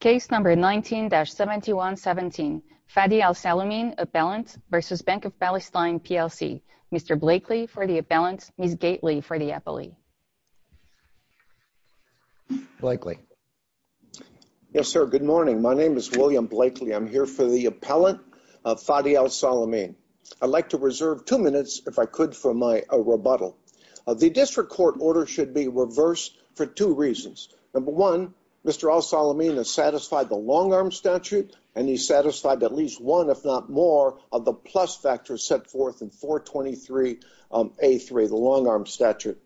Case number 19-7117, Fadi Elsalameen, Appellant, v. Bank of Palestine, P.L.C. Mr. Blakely for the Appellant, Ms. Gaitley for the Appellee. Blakely. Yes, sir, good morning. My name is William Blakely. I'm here for the Appellant, Fadi Elsalameen. I'd like to reserve two minutes, if I could, for my rebuttal. The district court order should be reversed for two reasons. Number one, Mr. Elsalameen has satisfied the long-arm statute, and he's satisfied at least one if not more of the plus factors set forth in 423A3, the long-arm statute.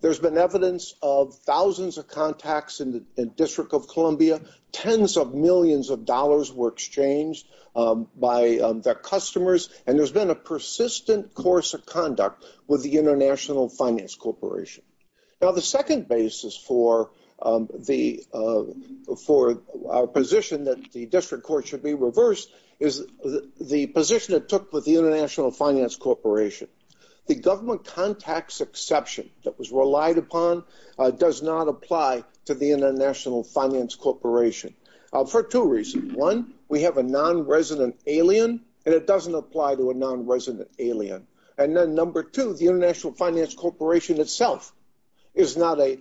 There's been evidence of thousands of contacts in the District of Columbia, tens of millions of dollars were exchanged by their customers, and there's been a persistent course of conduct with the International Finance Corporation. Now, the second basis for our position that the district court should be reversed is the position it took with the International Finance Corporation. The government contacts exception that was relied upon does not apply to the International Finance Corporation for two reasons. One, we have a non-resident alien, and it doesn't apply to a non-resident alien. And then number two, the International Finance Corporation itself is not a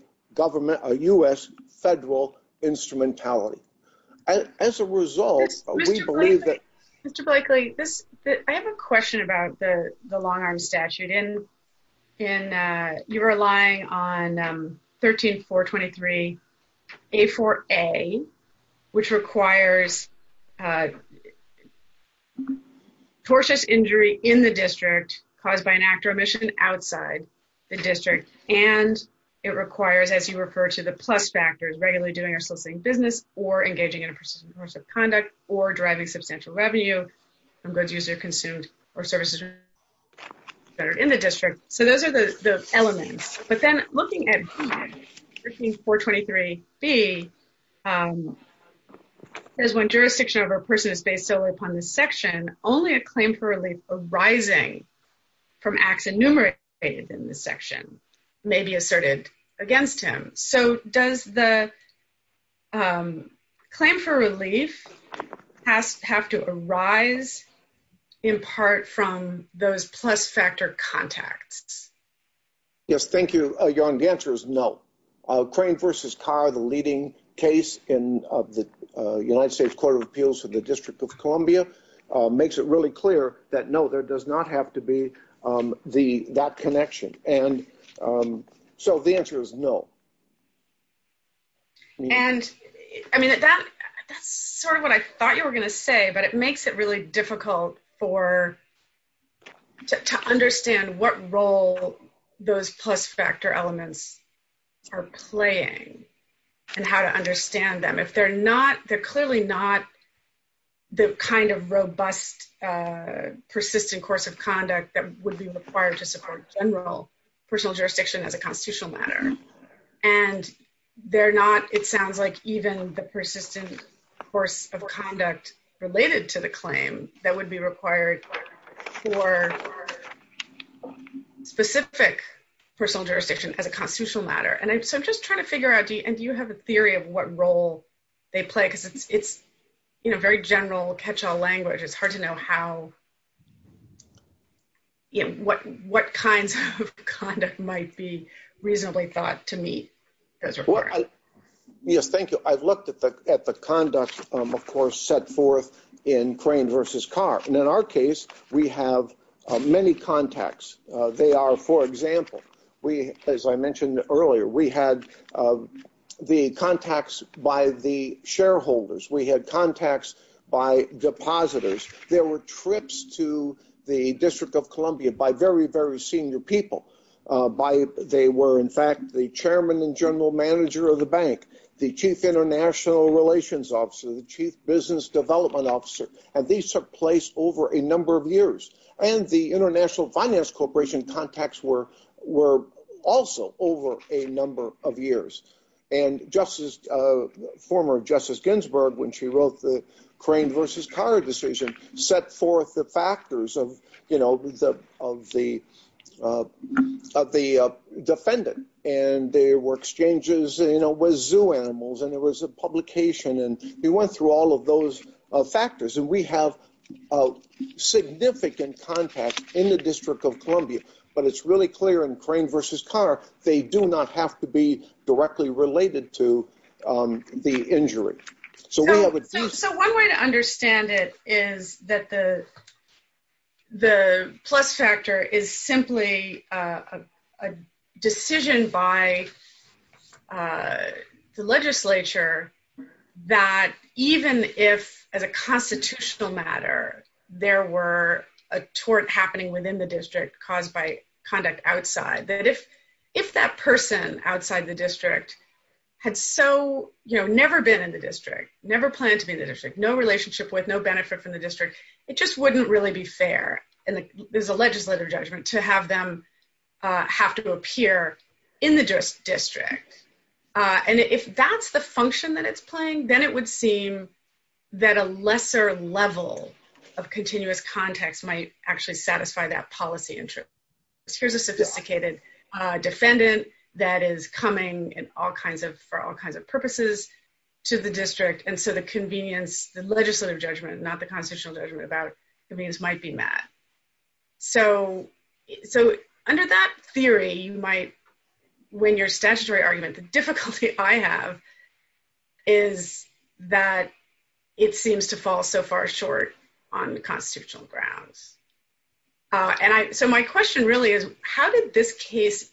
U.S. federal instrumentality. As a result, we believe that... Mr. Blakely, I have a question about the long-arm statute. You're relying on 13423A4A, which requires tortious injury in the district caused by an actor omission outside the district, and it requires, as you refer to the plus factors, regularly doing or soliciting business or engaging in a persistent course of conduct or driving substantial revenue from goods used or consumed or services that are in the district. So those are the elements. But then looking at 13423B, it says when jurisdiction over a person is based solely upon the section, only a claim for relief arising from acts enumerated in the section may be asserted against him. So does the claim for relief have to arise in part from those plus factor contacts? Yes, thank you, Jan. The answer is no. Crane v. Carr, the leading case in the United States Court of Appeals for the District of Columbia, makes it really clear that no, there does not have to be that connection. So the answer is no. And, I mean, that's sort of what I thought you were going to say, but it makes it really difficult to understand what role those plus factor elements are playing and how to understand them. If they're not, they're clearly not the kind of robust, persistent course of conduct that would be required to support general personal jurisdiction as a constitutional matter. And they're not, it sounds like, even the persistent course of conduct related to the claim that would be required for specific personal jurisdiction as a constitutional matter. And so I'm just trying to figure out, and do you have a theory of what role they play? Because it's very general catch-all language. It's hard to know what kinds of conduct might be reasonably thought to meet those requirements. Yes, thank you. I've looked at the conduct, of course, set forth in Crane v. Carr. And in our case, we have many contacts. They are, for example, as I mentioned earlier, we had the contacts by the shareholders. We had contacts by depositors. There were trips to the District of Columbia by very, very senior people. They were, in fact, the chairman and general manager of the bank, the chief international relations officer, the chief business development officer. And these took place over a number of years. And the International Finance Corporation contacts were also over a number of years. And former Justice Ginsburg, when she wrote the Crane v. Carr decision, set forth the factors of the defendant. And there were exchanges with zoo animals, and there was a publication. And we went through all of those factors. And we have significant contacts in the District of Columbia. But it's really clear in Crane v. Carr, they do not have to be directly related to the injury. So one way to understand it is that the plus factor is simply a decision by the legislature that even if, as a constitutional matter, there were a tort happening within the district caused by conduct outside, that if that person outside the district had so, you know, never been in the district, never planned to be in the district, no relationship with, no benefit from the district, it just wouldn't really be fair. And there's a legislative judgment to have them have to appear in the district. And if that's the function that it's playing, then it would seem that a lesser level of continuous context might actually satisfy that policy. Here's a sophisticated defendant that is coming for all kinds of purposes to the district. And so the convenience, the legislative judgment, not the constitutional judgment about convenience might be met. So under that theory, you might win your statutory argument. The difficulty I have is that it seems to fall so far short on constitutional grounds. So my question really is, how did this case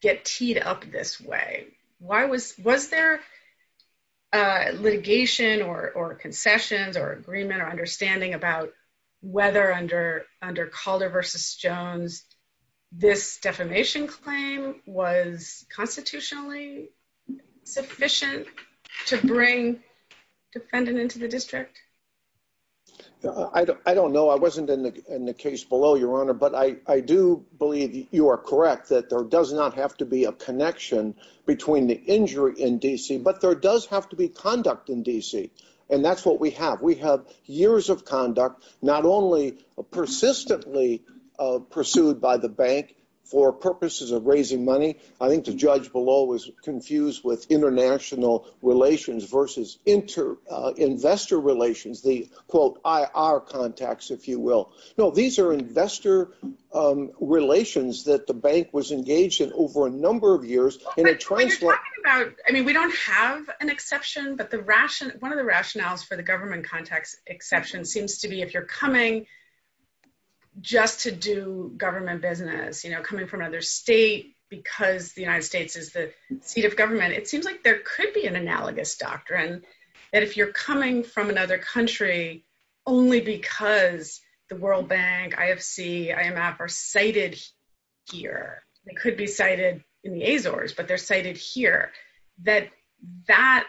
get teed up this way? Was there litigation or concessions or agreement or understanding about whether under Calder v. Jones this defamation claim was constitutionally sufficient to bring a defendant into the district? I don't know. I wasn't in the case below, Your Honor. But I do believe you are correct that there does not have to be a connection between the injury in D.C., but there does have to be conduct in D.C. And that's what we have. We have years of conduct, not only persistently pursued by the bank for purposes of raising money. I think the judge below was confused with international relations versus investor relations, the, quote, IR contacts, if you will. No, these are investor relations that the bank was engaged in over a number of years You're talking about, I mean, we don't have an exception, but one of the rationales for the government contacts exception seems to be if you're coming just to do government business, you know, coming from another state because the United States is the seat of government, it seems like there could be an analogous doctrine that if you're coming from another country only because the World Bank, IFC, IMF are cited here, they could be cited in the Azores, but they're cited here, that that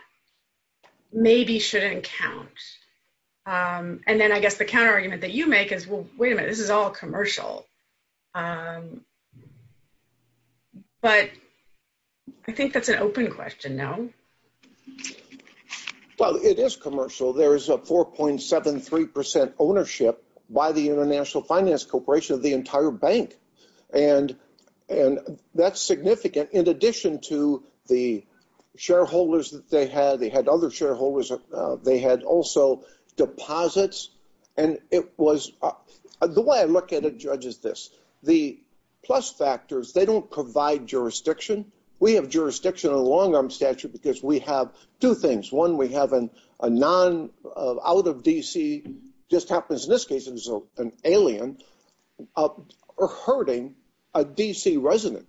maybe shouldn't count. And then I guess the counter argument that you make is, well, wait a minute, this is all commercial. But I think that's an open question, no? Well, it is commercial. There is a 4.73% ownership by the International Finance Corporation of the entire bank. And that's significant in addition to the shareholders that they had. They had other shareholders. They had also deposits. The way I look at it, Judge, is this. The plus factors, they don't provide jurisdiction. We have jurisdiction in the long-arm statute because we have two things. One, we have a non-out-of-DC, just happens in this case it was an alien, or hurting a DC resident.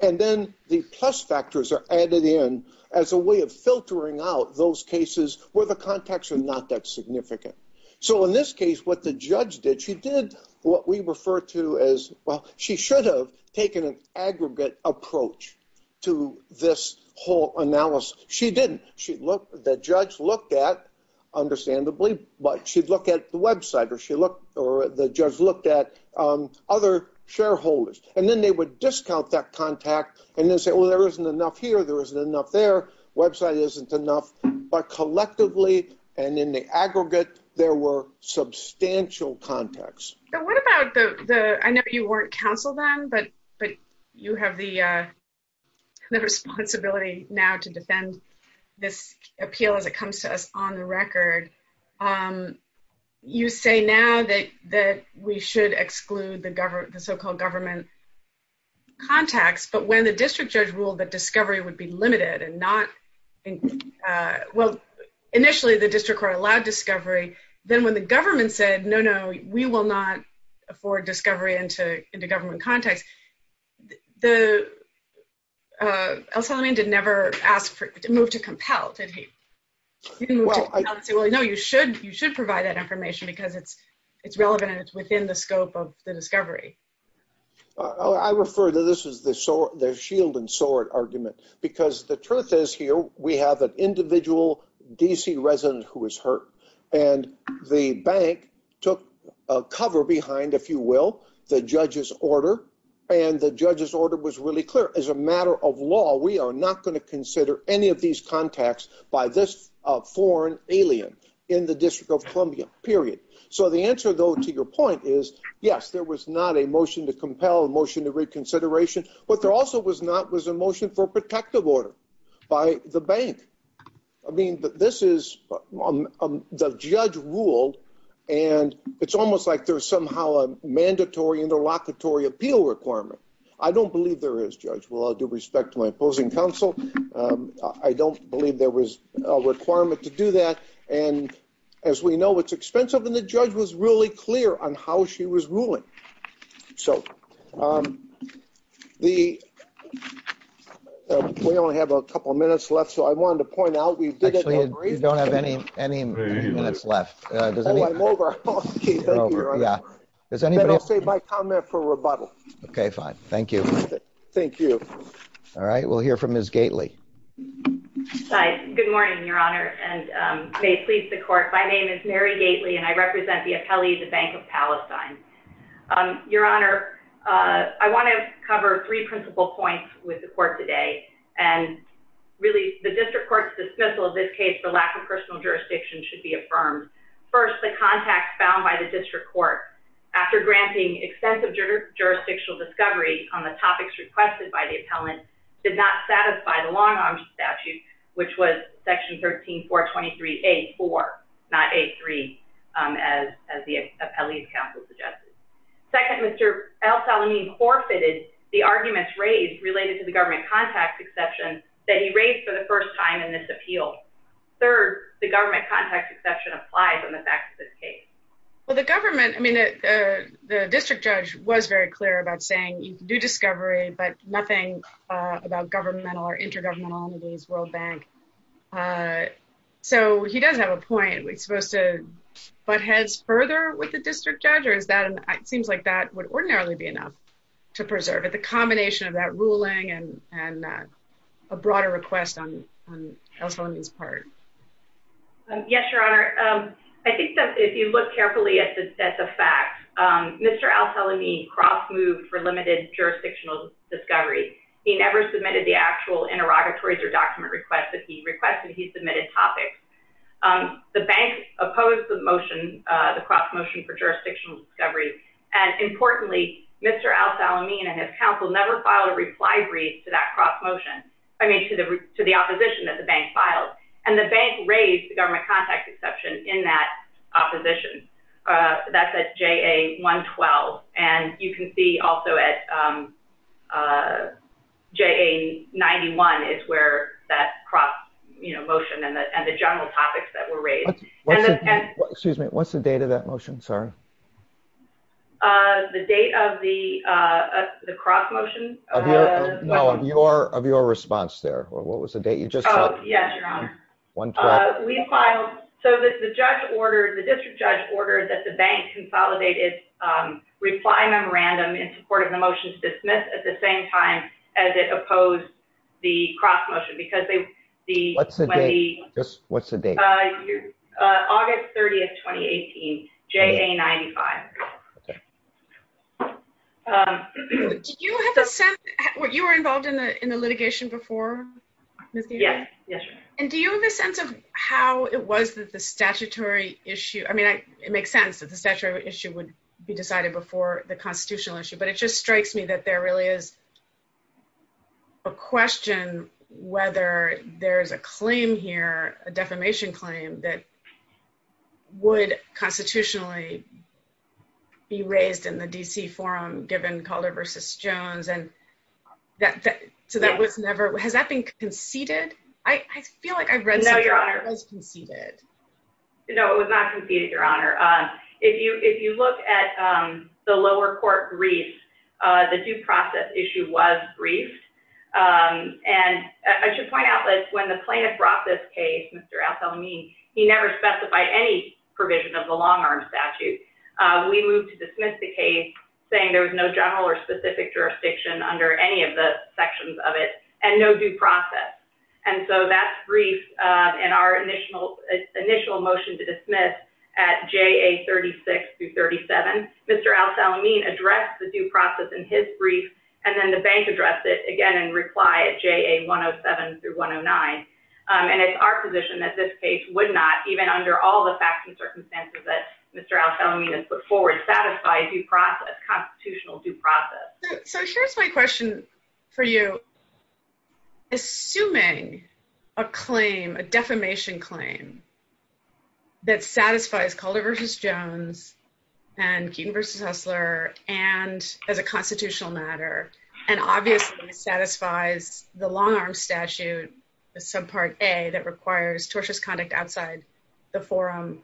And then the plus factors are added in as a way of filtering out those cases where the contacts are not that significant. So in this case, what the judge did, she did what we refer to as, well, she should have taken an aggregate approach to this whole analysis. She didn't. The judge looked at, understandably, but she'd look at the website or the judge looked at other shareholders. And then they would discount that contact and then say, well, there isn't enough here. There isn't enough there. Website isn't enough. But collectively and in the aggregate, there were substantial contacts. What about the, I know you weren't counsel then, but you have the responsibility now to defend this appeal as it comes to us on the record. You say now that we should exclude the so-called government contacts, but when the district judge ruled that discovery would be limited and not, well, initially the district court allowed discovery, then when the government said, no, no, we will not afford discovery into government contacts. El Salamín did never ask to move to compel. Did he? No, you should provide that information because it's relevant and it's within the scope of the discovery. I refer to this as the shield and sword argument because the truth is here, we have an individual D.C. resident who was hurt and the bank took cover behind, if you will, the judge's order. And the judge's order was really clear. As a matter of law, we are not going to consider any of these contacts by this foreign alien in the District of Columbia, period. So the answer, though, to your point is, yes, there was not a motion to compel, a motion to reconsideration. What there also was not was a motion for protective order by the bank. I mean, this is, the judge ruled and it's almost like there's somehow a mandatory interlocutory appeal requirement. I don't believe there is, Judge. With all due respect to my opposing counsel, I don't believe there was a requirement to do that. And as we know, it's expensive and the judge was really clear on how she was ruling. So the, we only have a couple of minutes left. So I wanted to point out, we didn't agree. Actually, you don't have any minutes left. Oh, I'm over. Okay, thank you, Your Honor. Then I'll save my comment for rebuttal. Okay, fine. Thank you. Thank you. All right, we'll hear from Ms. Gately. Hi, good morning, Your Honor, and may it please the Court. My name is Mary Gately and I represent the appellee of the Bank of Palestine. Your Honor, I want to cover three principal points with the Court today. And really, the District Court's dismissal of this case for lack of personal jurisdiction should be affirmed. First, the contacts found by the District Court after granting extensive jurisdictional discovery on the topics requested by the appellant did not satisfy the Long Arms Statute, which was Section 13-423-A-4, not A-3, as the appellee's counsel suggested. Second, Mr. El-Salameen forfeited the arguments raised related to the government contacts exception that he raised for the first time in this appeal. Third, the government contacts exception applies on the facts of this case. Well, the government, I mean, the District Judge was very clear about saying you can do discovery, but nothing about governmental or intergovernmental entities, World Bank. So he does have a point. Are we supposed to butt heads further with the District Judge? Or is that, it seems like that would ordinarily be enough to preserve it, the combination of that ruling and a broader request on El-Salameen's part. Yes, Your Honor. I think that if you look carefully at the facts, Mr. El-Salameen cross-moved for limited jurisdictional discovery. He never submitted the actual interrogatories or document request that he requested, he submitted topics. The bank opposed the motion, the cross-motion for jurisdictional discovery. And importantly, Mr. El-Salameen and his counsel never filed a reply brief to that cross-motion, I mean, to the opposition that the bank filed. And the bank raised the government contacts exception in that opposition. That's at JA 112. And you can see also at JA 91 is where that cross-motion and the general topics that were raised. Excuse me, what's the date of that motion? Sorry. The date of the cross-motion? No, of your response there. What was the date you just said? Yes, Your Honor. We filed, so the judge ordered, the district judge ordered that the bank consolidate its reply memorandum in support of the motion to dismiss at the same time as it opposed the cross-motion because they... What's the date? What's the date? August 30th, 2018. JA 95. Okay. Did you have a sense, you were involved in the litigation before? Yes. And do you have a sense of how it was that the statutory issue, I mean, it makes sense that the statutory issue would be decided before the constitutional issue, but it just strikes me that there really is a question whether there's a claim here, a defamation claim, that would constitutionally be raised in the D.C. forum given Calder versus Jones, and so that was never... Was it conceded? I feel like I've read something... No, Your Honor. It was conceded. No, it was not conceded, Your Honor. If you look at the lower court brief, the due process issue was briefed, and I should point out that when the plaintiff brought this case, Mr. Althelmy, he never specified any provision of the long-arm statute. We moved to dismiss the case saying there was no general or specific jurisdiction under any of the sections of it and no due process, and so that's briefed in our initial motion to dismiss at J.A. 36-37. Mr. Althelmy addressed the due process in his brief, and then the bank addressed it again in reply at J.A. 107-109, and it's our position that this case would not, even under all the facts and circumstances that Mr. Althelmy has put forward, satisfy due process, constitutional due process. So here's my question for you. Assuming a claim, a defamation claim, that satisfies Calder v. Jones and Keaton v. Hessler as a constitutional matter and obviously satisfies the long-arm statute, the subpart A that requires tortious conduct outside the forum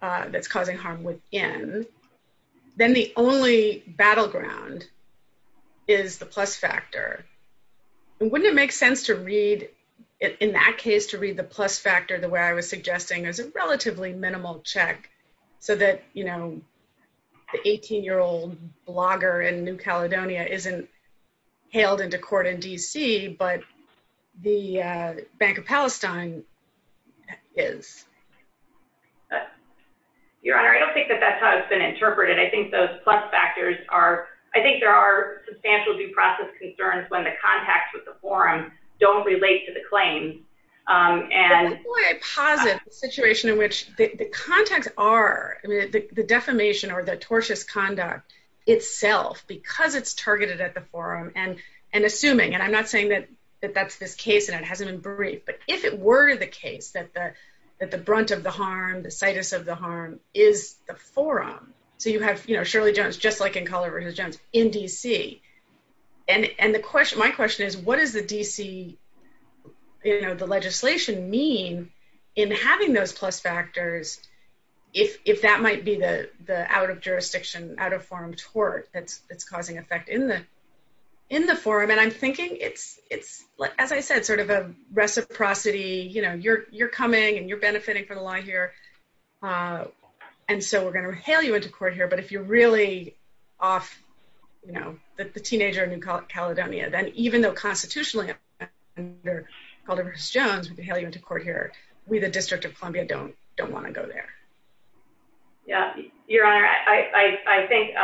that's causing harm within, then the only battleground is the plus factor. Wouldn't it make sense to read in that case, to read the plus factor the way I was suggesting as a relatively minimal check so that the 18-year-old blogger in New Caledonia isn't hailed into court in D.C., but the Bank of Palestine is? Your Honor, I don't think that that's how it's been interpreted. I think those plus factors are, I think there are substantial due process concerns when the contacts with the forum don't relate to the claim. Before I posit the situation in which the contacts are, the defamation or the tortious conduct itself, because it's targeted at the forum and assuming, and I'm not saying that that's this case and it hasn't been briefed, but if it were the case, that the brunt of the harm, the situs of the harm is the forum. So you have Shirley Jones, just like in Colorado Jones, in D.C. My question is, what is the D.C. legislation mean in having those plus factors if that might be the out-of-jurisdiction, out-of-forum tort that's causing effect in the forum? And I'm thinking it's, as I said, sort of a reciprocity, you're coming and you're benefiting from the law here and so we're going to hail you into court here, but if you're really off the teenager in Caledonia, then even though constitutionally under Calderas-Jones we can hail you into court here, we, the District of Columbia, don't want to go there. Your Honor, I think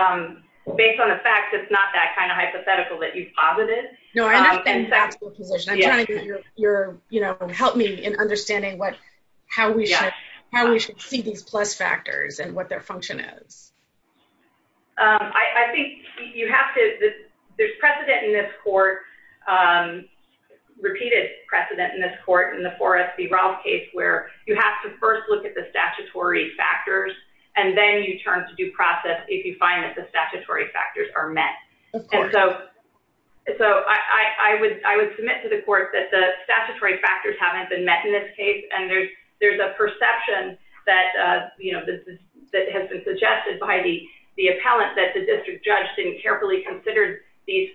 based on the facts, it's not that kind of hypothetical that you've posited. No, I'm not in that position. I'm trying to get your, you know, help me in understanding what, how we should see these plus factors and what their function is. I think you have to, there's precedent in this court, repeated precedent in this court in the Forrest v. Rolfe case where you have to first look at the statutory factors and then you turn to due process if you find that the statutory factors are met. Of course. I would submit to the court that the statutory factors haven't been met in this case and there's a perception that, you know, that has been suggested by the appellant that the district judge didn't carefully consider these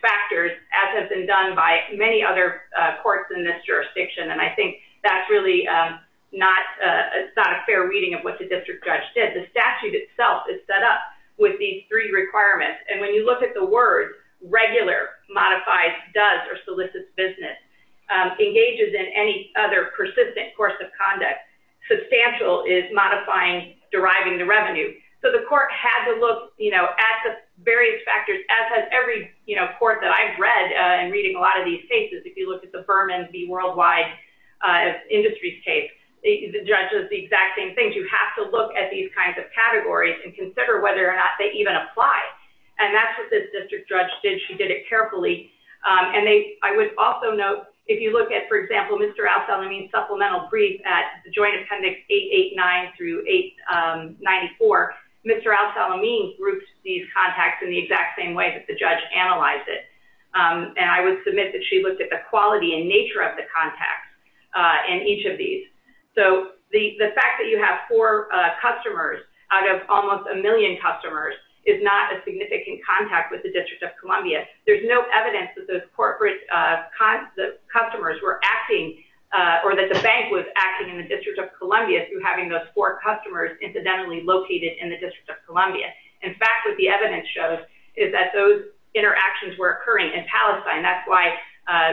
factors as has been done by many other courts in this jurisdiction and I think that's really not a fair reading of what the district judge did. The statute itself is set up with these three requirements and when you look at the words, regular, modified, does or solicits business, engages in any other persistent course of conduct, substantial is modifying deriving the revenue. So the court had to look, you know, at the various factors as has every, you know, court that I've read and reading a lot of these cases. If you look at the Berman v. Worldwide Industries case, the judge does the exact same thing. You have to look at these kinds of factors. You have to look at how these factors even apply and that's what this district judge did. She did it carefully and I would also note if you look at, for example, Mr. Al-Salameen's supplemental brief at Joint Appendix 889 through 894, Mr. Al-Salameen grouped these contacts in the exact same way that the judge analyzed it and I would submit that she looked at the quality and nature of the contacts in each of these. So the fact that you have four customers out of almost a million customers is not a significant contact with the District of Columbia. There's no evidence that those corporate customers were acting or that the bank was acting in the District of Columbia through having those four customers incidentally located in the District of Columbia. In fact, what the evidence shows is that those why,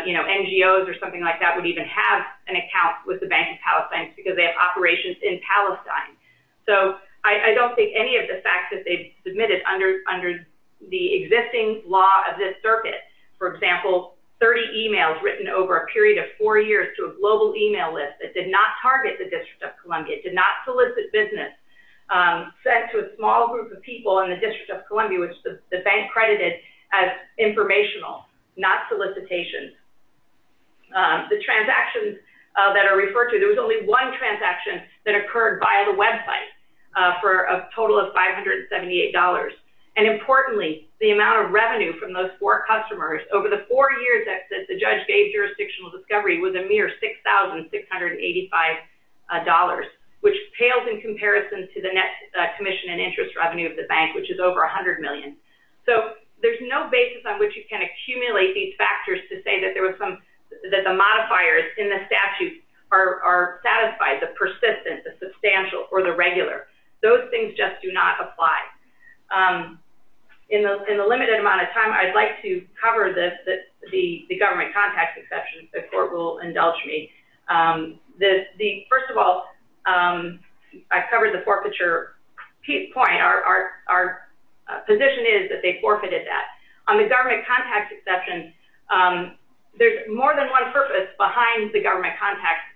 you know, NGOs or something like that would even have an account with the Bank of Palestine because they have operations in Palestine. So I don't think any of the facts that they submitted under the existing law of this circuit, for example, 30 emails written over a period of four years to a global email list that did not target the District of Columbia, did not solicit business, sent to a small group of people in the District of Columbia which the bank credited as informational, not solicitation. The transactions that are referred to, there was only one transaction that occurred via the website for a total of $578. And importantly, the amount of revenue from those four customers over the four years that the judge gave jurisdictional discovery was a mere $6,685, which pales in comparison to the net commission and interest revenue of the bank, which is over $100 million. So there's no basis on which you can accumulate these factors to say that there was some that the modifiers in the statute are satisfied, the persistent, the substantial, or the regular. Those things just do not apply. In the limited amount of time, I'd like to cover this, the government contact exception. The court will indulge me. First of all, I covered the forfeiture point. Our position is that they forfeited that. On the government contact exception, there's more than one purpose behind the government contact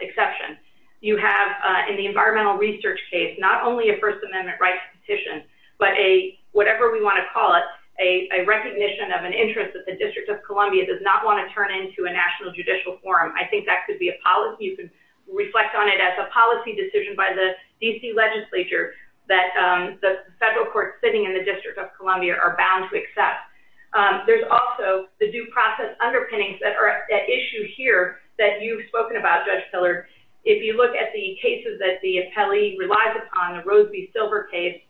exception. You have in the environmental research case, not only a First Amendment rights petition, but a, whatever we want to call it, a recognition of an interest that the District of Columbia does not want to turn into a national judicial forum. I think that could be a policy, you could reflect on it as a policy decision by the D.C. legislature that the federal courts sitting in the District of Columbia are bound to accept. There's also the due process underpinnings that are at issue here that you've spoken about, Judge Pillard. If you look at the cases that the appellee relies upon, the Roseby-Silver case,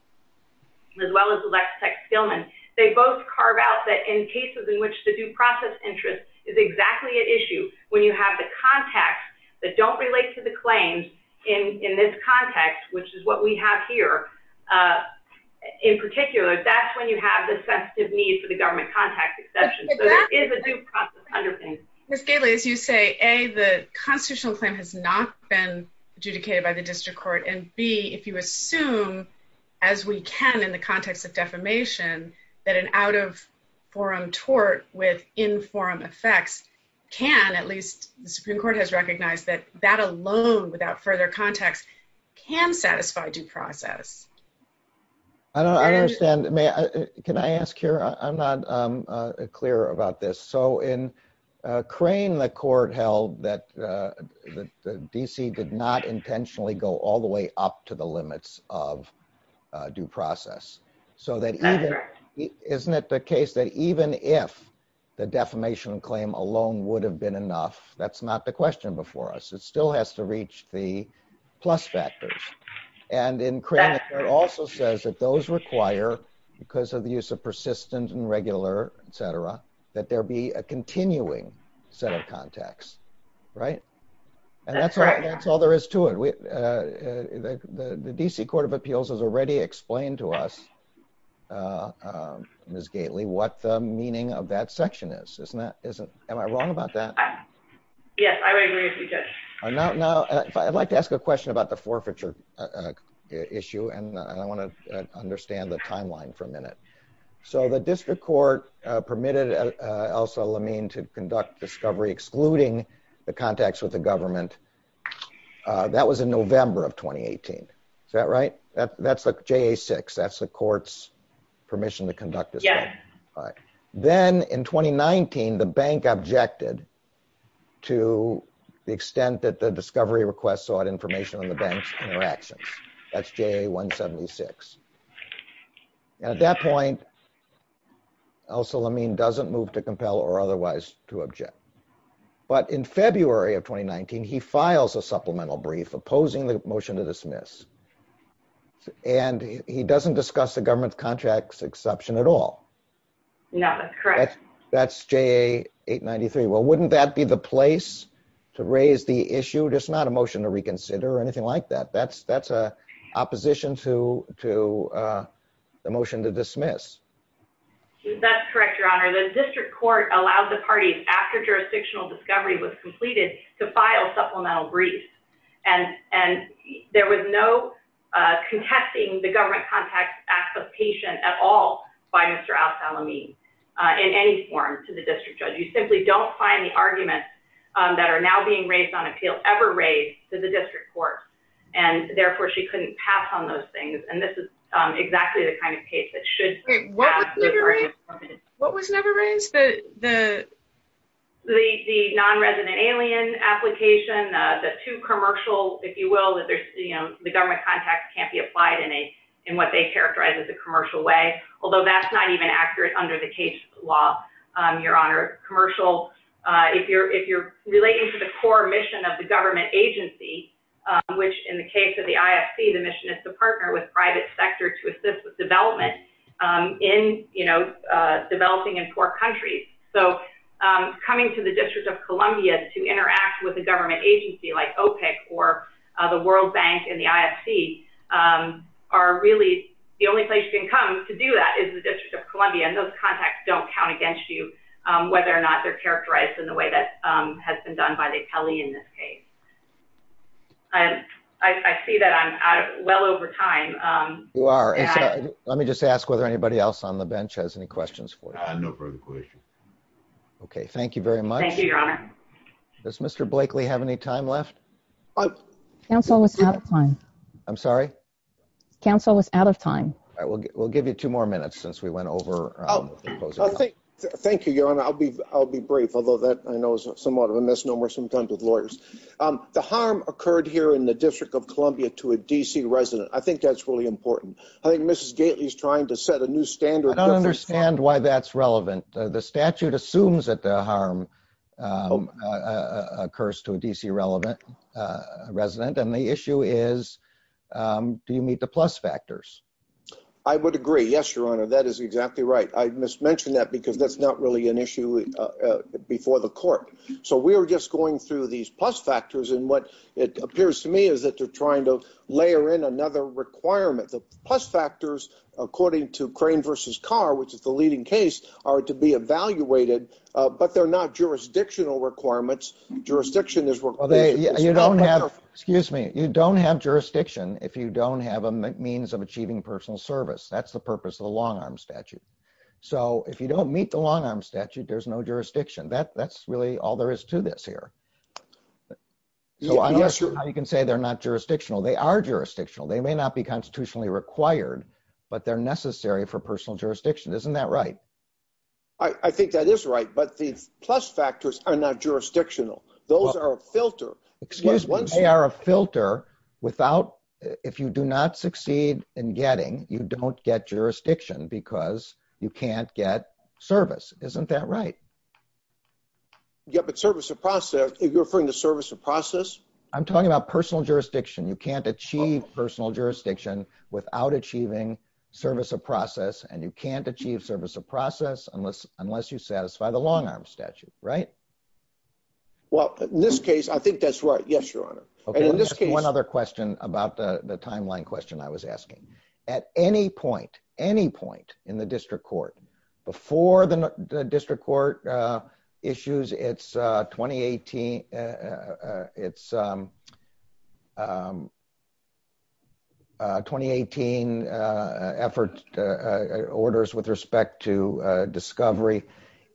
as well as the Lex Tech-Skillman, they both carve out that in cases in which the due process interest is exactly at issue when you have the contacts that don't relate to the claims in this context, which is what we have here, in particular, that's when you have the sensitive need for the government contact exception. So there is a due process underpinning. Ms. Gately, as you say, a, the constitutional claim has not been adjudicated by the District Court, and b, if you assume, as we can in the context of defamation, that an out-of-forum tort with in-forum effects can, at least the Supreme Court has recognized, that that alone, without further context, can satisfy a due process. I don't understand. May I, can I ask here? I'm not clear about this. So in Crane, the court held that the D.C. did not intentionally go all the way up to the limits of due process. So that even, isn't it the case that even if the defamation claim alone would have been enough, that's not the question before us. It still has to reach the plus factors. And in Crane, it also says that those require, because of the use of persistent and regular, etc., that there be a continuing set of context. Right? And that's all there is to it. The D.C. Court of Appeals has already explained to us, Ms. Gately, what the meaning of that section is. Isn't that, am I wrong about that? Yes, I would agree with you, Judge. Now, I'd like to ask a question about the forfeiture issue, and I want to understand the timeline for a minute. So the district court permitted Elsa Lamin to conduct discovery excluding the contacts with the government. That was in November of 2018. Is that right? That's the JA-6. That's the court's permission to conduct discovery. Then, in 2019, the bank objected to the extent that the discovery request sought information on the bank's interactions. That's JA-176. At that point, Elsa Lamin doesn't move to compel or otherwise to object. But in February of 2019, he files a supplemental brief opposing the motion And he doesn't discuss the government's contracts exception at all. No, that's correct. That's JA-893. Well, wouldn't that be the place to raise the issue? Just not a motion to reconsider or anything like that. That's an opposition to the motion to dismiss. That's correct, Your Honor. The district court allowed the parties, after jurisdictional discovery was completed, to file supplemental briefs. And there was no contesting the government contacts application at all by Mr. Elsa Lamin in any form to the district judge. You simply don't find the arguments that are now being raised on appeal ever raised to the district court. Therefore, she couldn't pass on those things. And this is exactly the kind of case that should pass. What was never raised? The non-resident alien application. The two commercial, if you will, the government contacts can't be applied in what they that's not even accurate under the case law, Your Honor. Commercial, if you're relating to the core mission of the government agency, which in the case of the IFC, the mission is to partner with private sector to assist with development in, you know, developing in poor countries. So, coming to the District of Columbia to interact with a government agency like OPEC or the World Bank and the IFC are really the only place you can come to do that is the District of Columbia and those contacts don't count against you, whether or not they're characterized in the way that has been done by the Atelier in this case. I see that I'm well over time. You are. Let me just ask whether anybody else on the bench has any questions for you. I have no further questions. Okay. Thank you very much. Thank you, Your Honor. Does Mr. Blakely have any time left? Council was out of time. I'm sorry? Council was out of time. We'll give you two more minutes since we went over. Thank you, Your Honor. I'll be brief, although that I know is somewhat of a misnomer sometimes with lawyers. The harm occurred here in the District of Columbia to a D.C. resident. I think that's really important. I think Mrs. Gately is trying to set a new standard. I don't understand why that's relevant. The statute assumes that the harm occurs to a D.C. resident and the issue is do you meet the plus factors? I would agree. Yes, Your Honor. That is exactly right. I mismentioned that because that's not really an issue before the court. We're just going through these plus factors and what it appears to me is that they're trying to layer in another requirement. The plus factors, according to Crane v. Carr, which is the leading case, are to be evaluated, but they're not jurisdictional requirements. You don't have jurisdiction if you don't have a means of achieving personal service. That's the purpose of the long-arm statute. If you don't meet the long-arm statute, there's no jurisdiction. That's really all there is to this here. I'm not sure how you can say they're not jurisdictional. They are jurisdictional. They may not be constitutionally required, but they're necessary for personal jurisdiction. Isn't that right? I think that is right, but the plus factors are not jurisdictional. Those are a filter. They are a filter. If you do not succeed in getting, you don't get jurisdiction because you can't get service. Isn't that right? You're referring to service of process? I'm talking about personal jurisdiction. You can't achieve personal jurisdiction without achieving service of process and you can't achieve service of process unless you satisfy the long-arm statute. In this case, I think that's right. Yes, Your Honor. One other question about the timeline question I was asking. At any point, any point in the district court before the district court issues its 2018 effort orders with respect to discovery,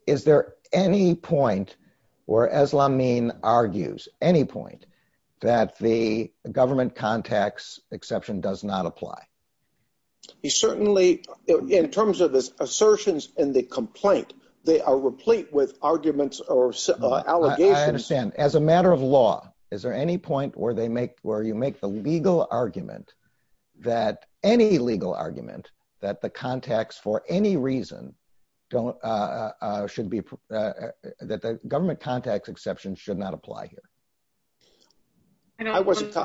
is there any point where Eslamin argues, any point that the government contacts exception does not apply? Certainly, in terms of assertions in the complaint, they are replete with arguments or allegations. I understand. As a matter of law, is there any point where you make the legal argument that any legal argument that the government contacts exception should not apply here? I don't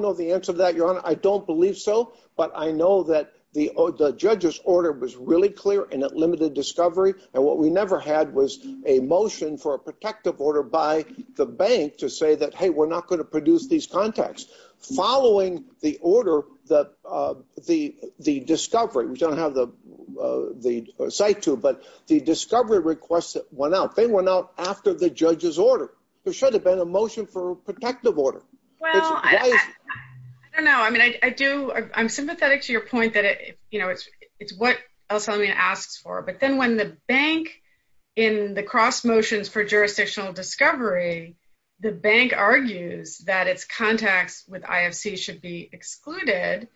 know the answer to that, Your Honor. I don't believe so, but I know that the judge's order was really clear and it limited discovery. What we never had was a motion for a protective order by the bank to say that, hey, we're not going to produce these contacts. Following the order, the discovery we don't have the site to, but the discovery request went out. They went out after the judge's order. There should have been a motion for a protective order. I don't know. I'm sympathetic to your point that it's what Eslamin asks for, but then when the bank, in the cross motions for jurisdictional discovery, the bank argues that its contacts with IFC should be excluded.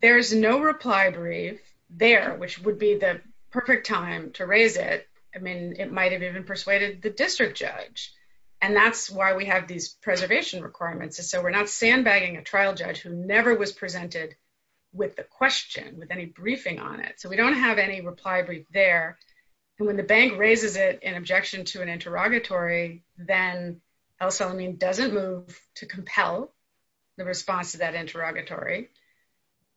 There's no reply brief there, which would be the perfect time to raise it. It might have even persuaded the district judge. That's why we have these preservation requirements. We're not sandbagging a trial judge who never was presented with the question with any briefing on it. We don't have any reply brief there. When the bank raises it in objection to an interrogatory, then Eslamin doesn't move to compel the response to that interrogatory.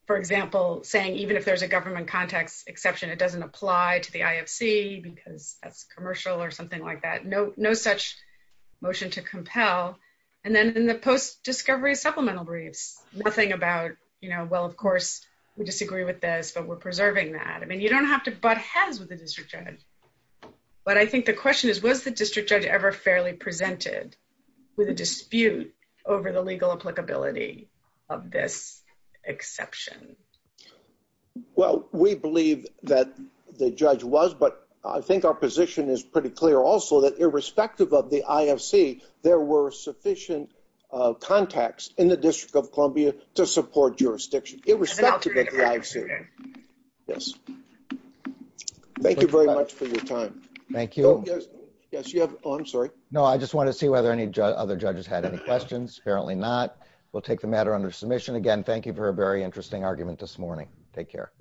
For example, saying even if there's a government contacts exception, it doesn't apply to the IFC because that's commercial or something like that. No such motion to compel. Then in the post-discovery supplemental briefs, nothing about well, of course, we disagree with this, but we're preserving that. You don't have to butt heads with the district judge. I think the question is, was the district judge ever fairly presented with a dispute over the legal applicability of this exception? Well, we believe that the judge was, but I think our position is pretty clear also that irrespective of the IFC, there were sufficient contacts in the District of Columbia to support jurisdiction, irrespective of the IFC. Yes. Thank you very much for your time. Thank you. Yes, you have. Oh, I'm sorry. No, I just want to see whether any other judges had any questions. Apparently not. We'll take the matter under submission again. Thank you for a very interesting argument this morning. Take care.